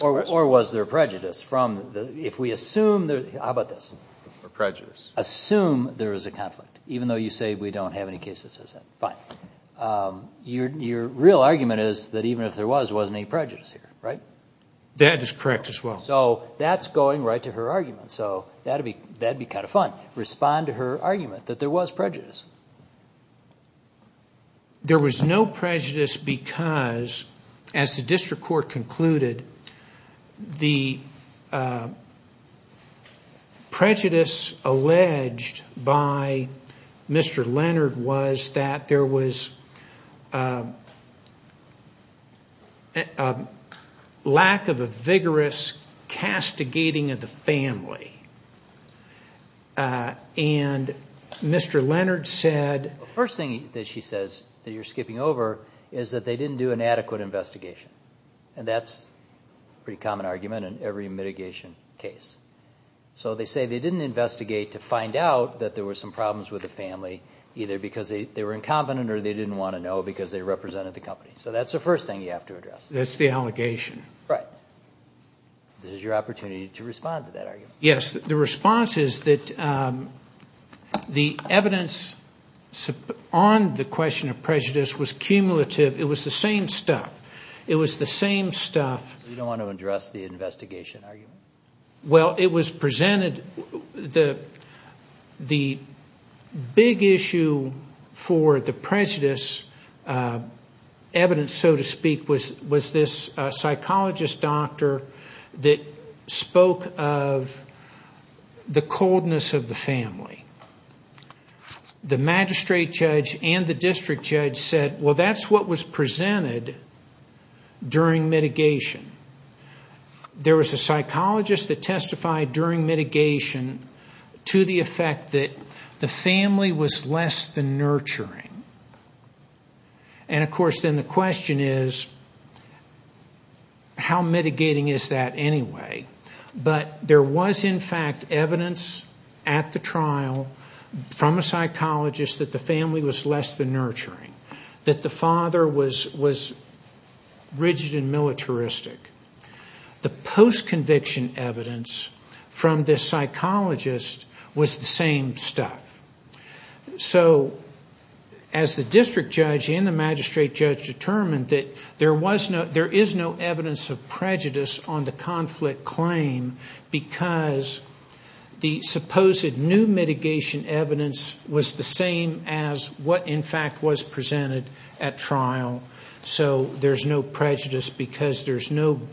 Or was there prejudice? How about this? Or prejudice? Assume there is a conflict, even though you say we don't have any cases that say that. Fine. Your real argument is that even if there was, there wasn't any prejudice here, right? That is correct as well. So that's going right to her argument. So that'd be kind of fun. Respond to her argument that there was prejudice. There was no prejudice because, as the district court concluded, the was a lack of a vigorous castigating of the family. And Mr. Leonard said- First thing that she says that you're skipping over is that they didn't do an adequate investigation. And that's a pretty common argument in every mitigation case. So they say they didn't investigate to find out that there were some problems with the family, either because they were incompetent or they didn't want to know because they represented the company. So that's the first thing you have to address. That's the allegation. Right. This is your opportunity to respond to that argument. Yes. The response is that the evidence on the question of prejudice was cumulative. It was the same stuff. It was the same stuff. You don't want to address the investigation argument? Well, it was presented- The big issue for the prejudice evidence, so to speak, was this psychologist doctor that spoke of the coldness of the family. The magistrate judge and the district judge said, well, that's what was presented during mitigation. There was a psychologist that testified during mitigation to the effect that the family was less than nurturing. And of course, then the question is, how mitigating is that anyway? But there was, in fact, evidence at the trial from a psychologist that the family was less than nurturing, that the father was rigid and militaristic. The post-conviction evidence from this psychologist was the same stuff. So as the district judge and the magistrate judge determined that there is no evidence of prejudice on the conflict claim because the supposed new mitigation evidence was the same as what, in fact, was presented at trial. So there's no prejudice because there's nothing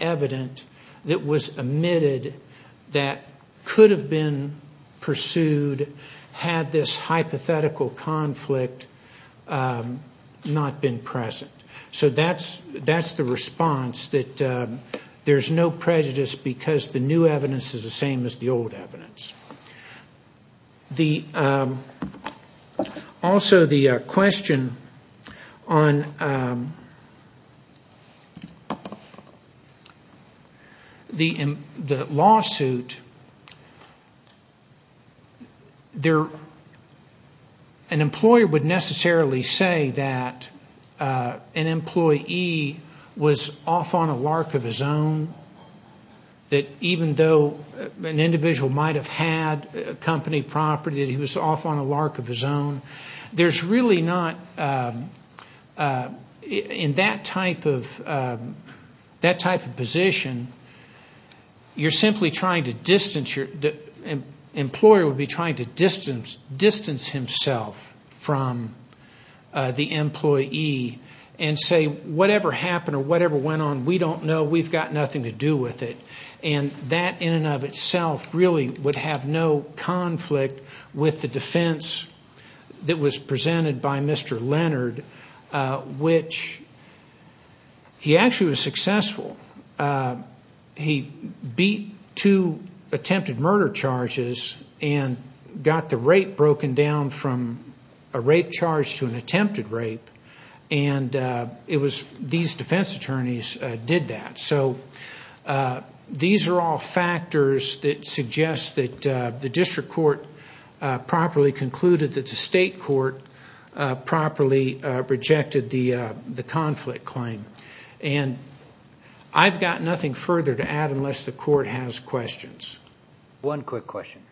evident that was omitted that could have been pursued had this hypothetical conflict not been present. So that's the response, that there's no prejudice because the new evidence is the same as the old evidence. Also, the question on the lawsuit, an employer would necessarily say that an employee was off on a lark of his own, that even though an individual might have had company property, that he was off on a lark of his own. There's really not, in that type of position, you're simply trying to distance your, the employer would be trying to distance himself from the employee and say, whatever happened or whatever went on, we don't know, we've got nothing to do with it. That in and of itself really would have no conflict with the defense that was presented by Mr. Leonard, which he actually was successful. He beat two attempted murder charges and got the rate broken down from a rape charge to an attempted rape. And it was these defense attorneys did that. So these are all factors that suggest that the district court properly concluded that the state court properly rejected the conflict claim. And I've got nothing further to add unless the court has questions. One quick question.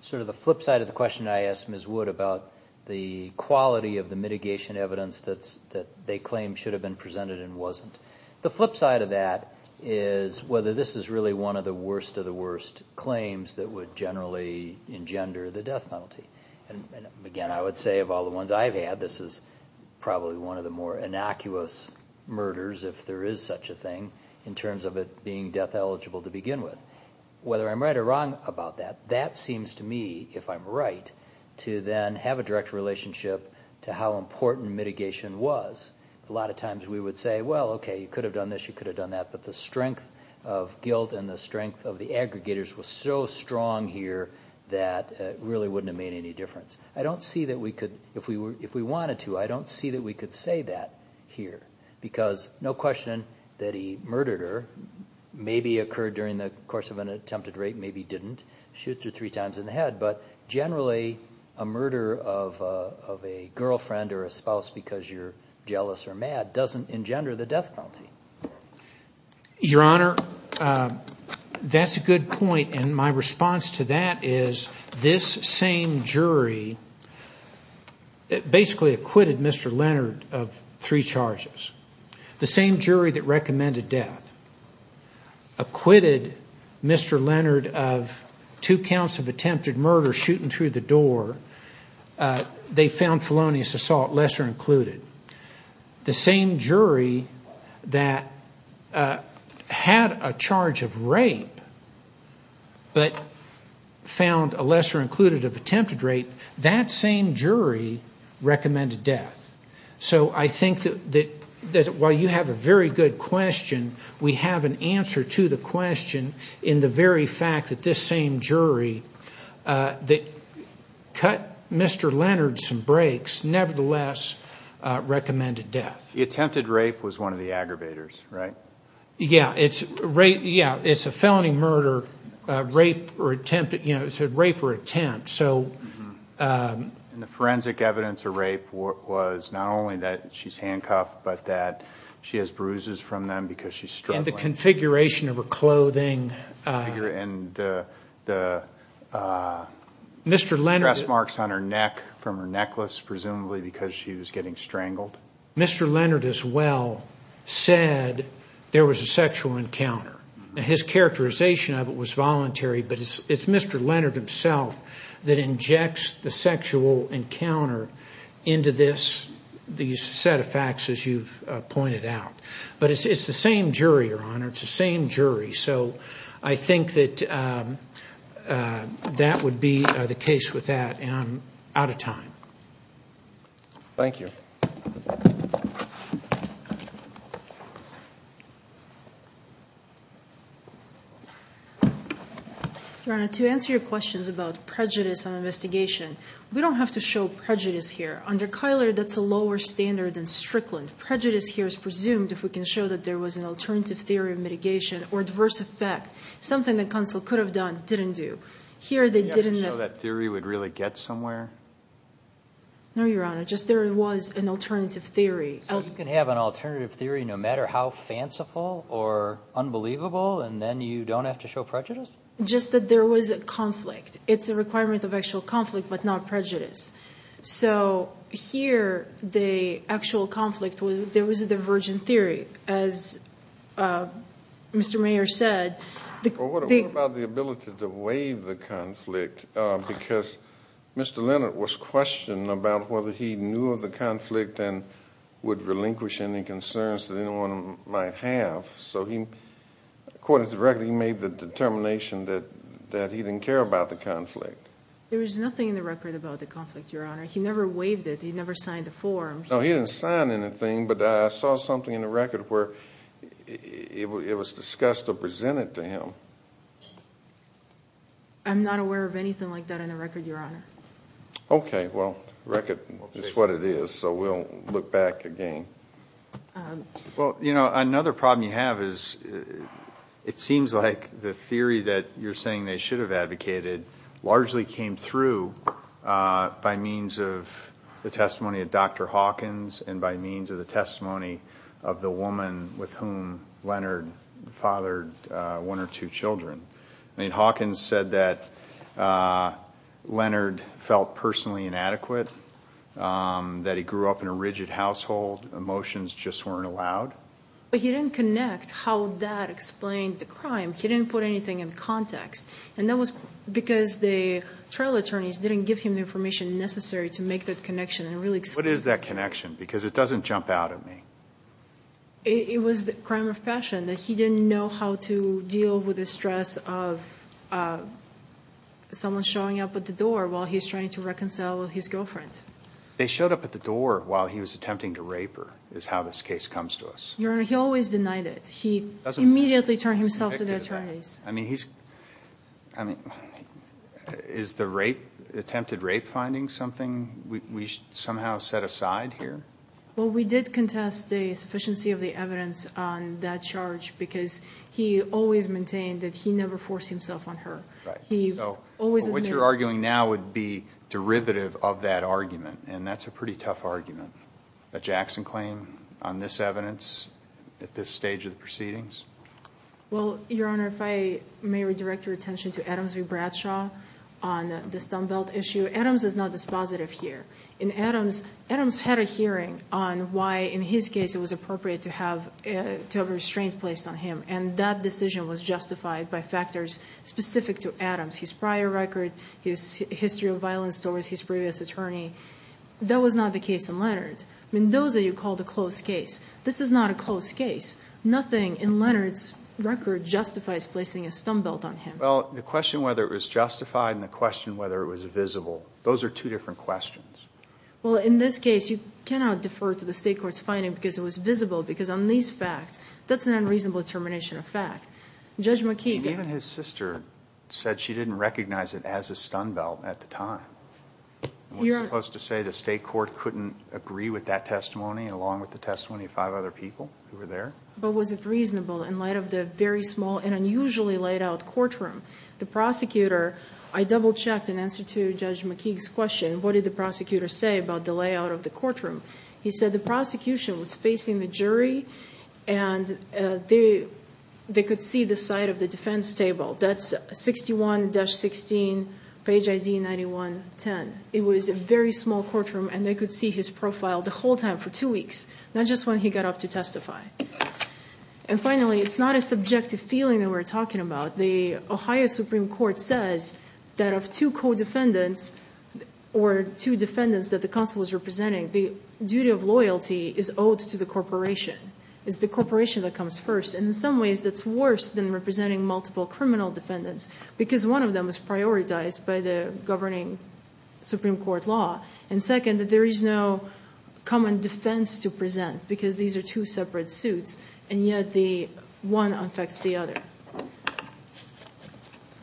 Sort of the flip side of the question I asked Ms. Wood about the quality of the mitigation evidence that they claim should have been presented and wasn't. The flip side of that is whether this is really one of the worst of the worst claims that would generally engender the death penalty. And again, I would say of all the ones I've had, this is probably one of the more innocuous murders, if there is such a thing, in terms of it being death eligible to begin with. Whether I'm right or wrong about that, that seems to me, if I'm right, to then have a relationship to how important mitigation was. A lot of times we would say, well, okay, you could have done this, you could have done that. But the strength of guilt and the strength of the aggregators was so strong here that it really wouldn't have made any difference. I don't see that we could, if we wanted to, I don't see that we could say that here. Because no question that he murdered her, maybe occurred during the course of an attempted rape, maybe didn't. Shoots her three times in the head. But generally a murder of a girlfriend or a spouse because you're jealous or mad doesn't engender the death penalty. Your Honor, that's a good point. And my response to that is this same jury basically acquitted Mr. Leonard of three charges. The same jury that recommended death acquitted Mr. Leonard of two counts of attempted murder, shooting through the door. They found felonious assault, lesser included. The same jury that had a charge of rape but found a lesser included of attempted rape, that same jury recommended death. So I think that while you have a very good question, we have an answer to the question in the very fact that this same jury that cut Mr. Leonard some breaks nevertheless recommended death. The attempted rape was one of the aggravators, right? Yeah, it's a felony murder, rape or attempt. So the forensic evidence of rape was not only that she's handcuffed, but that she has bruises from them because she's struggling. And the configuration of her clothing. And the dress marks on her neck from her necklace, presumably because she was getting strangled. Mr. Leonard as well said there was a sexual encounter. His characterization of it was voluntary, but it's Mr. Leonard himself that injects the sexual encounter into this, these set of facts as you've pointed out. But it's the same jury, Your Honor. It's the same jury. So I think that that would be the case with that. And I'm out of time. Thank you. Your Honor, to answer your questions about prejudice on investigation, we don't have to show prejudice here. Under Kyler, that's a lower standard than Strickland. Prejudice here is presumed if we can show that there was an alternative theory of mitigation or adverse effect. Something that counsel could have done, didn't do. Here they didn't. Do you know that theory would really get somewhere? No, Your Honor. Just there was an alternative theory. You can have an alternative theory, no matter how fanciful or unbelievable, and then you don't have to show prejudice? Just that there was a conflict. It's a requirement of actual conflict, but not prejudice. So here, the actual conflict, there was a divergent theory. As Mr. What about the ability to waive the conflict? Because Mr. Leonard was questioned about whether he knew of the conflict and would relinquish any concerns that anyone might have. So he, according to the record, he made the determination that he didn't care about the conflict. There was nothing in the record about the conflict, Your Honor. He never waived it. He never signed the form. No, he didn't sign anything. But I saw something in the record where it was discussed or presented to him. I'm not aware of anything like that in the record, Your Honor. Okay, well, the record is what it is, so we'll look back again. Well, you know, another problem you have is, it seems like the theory that you're saying they should have advocated largely came through by means of the testimony of Dr. Hawkins and by means of the testimony of the woman with whom Leonard fathered one or two children. I mean, Hawkins said that Leonard felt personally inadequate, that he grew up in a rigid household. Emotions just weren't allowed. But he didn't connect how that explained the crime. He didn't put anything in context. And that was because the trial attorneys didn't give him the information necessary to make that connection and really explain it. What is that connection? Because it doesn't jump out at me. It was a crime of passion, that he didn't know how to deal with the stress of someone showing up at the door while he's trying to reconcile with his girlfriend. They showed up at the door while he was attempting to rape her, is how this case comes to us. Your Honor, he always denied it. He immediately turned himself to the attorneys. I mean, is the attempted rape finding something we somehow set aside here? Well, we did contest the sufficiency of the evidence on that charge because he always maintained that he never forced himself on her. Right. He always admitted. But what you're arguing now would be derivative of that argument. And that's a pretty tough argument. A Jackson claim on this evidence at this stage of the proceedings? Well, Your Honor, if I may redirect your attention to Adams v. Bradshaw on this dumbbell issue. Adams is not dispositive here. In Adams, Adams had a hearing on why, in his case, it was appropriate to have a restraint placed on him. And that decision was justified by factors specific to Adams. His prior record, his history of violent stories, his previous attorney. That was not the case in Leonard. I mean, those are what you call the closed case. This is not a closed case. Nothing in Leonard's record justifies placing a stumbelt on him. Well, the question whether it was justified and the question whether it was visible, those are two different questions. Well, in this case, you cannot defer to the state court's finding because it was visible. Because on these facts, that's an unreasonable termination of fact. Judge McKeegan. Even his sister said she didn't recognize it as a stumbelt at the time. And what are you supposed to say? The state court couldn't agree with that testimony along with the testimony of five other people who were there? But was it reasonable in light of the very small and unusually laid out courtroom? The prosecutor, I double checked in answer to Judge McKeegan's question, what did the prosecutor say about the layout of the courtroom? He said the prosecution was facing the jury and they could see the side of the defense table. That's 61-16, page ID 9110. It was a very small courtroom and they could see his profile the whole time for two weeks, not just when he got up to testify. And finally, it's not a subjective feeling that we're talking about. The Ohio Supreme Court says that of two co-defendants or two defendants that the council was representing, the duty of loyalty is owed to the corporation. It's the corporation that comes first. And in some ways, that's worse than representing multiple criminal defendants because one of them is prioritized by the governing Supreme Court law. And second, that there is no common defense to present because these are two separate suits. And yet, one affects the other.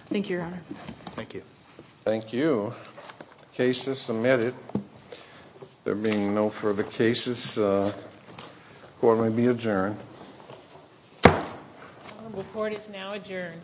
Thank you, Your Honor. Thank you. Thank you. Cases submitted. There being no further cases, the court may be adjourned. The court is now adjourned. Thank you. Thank you.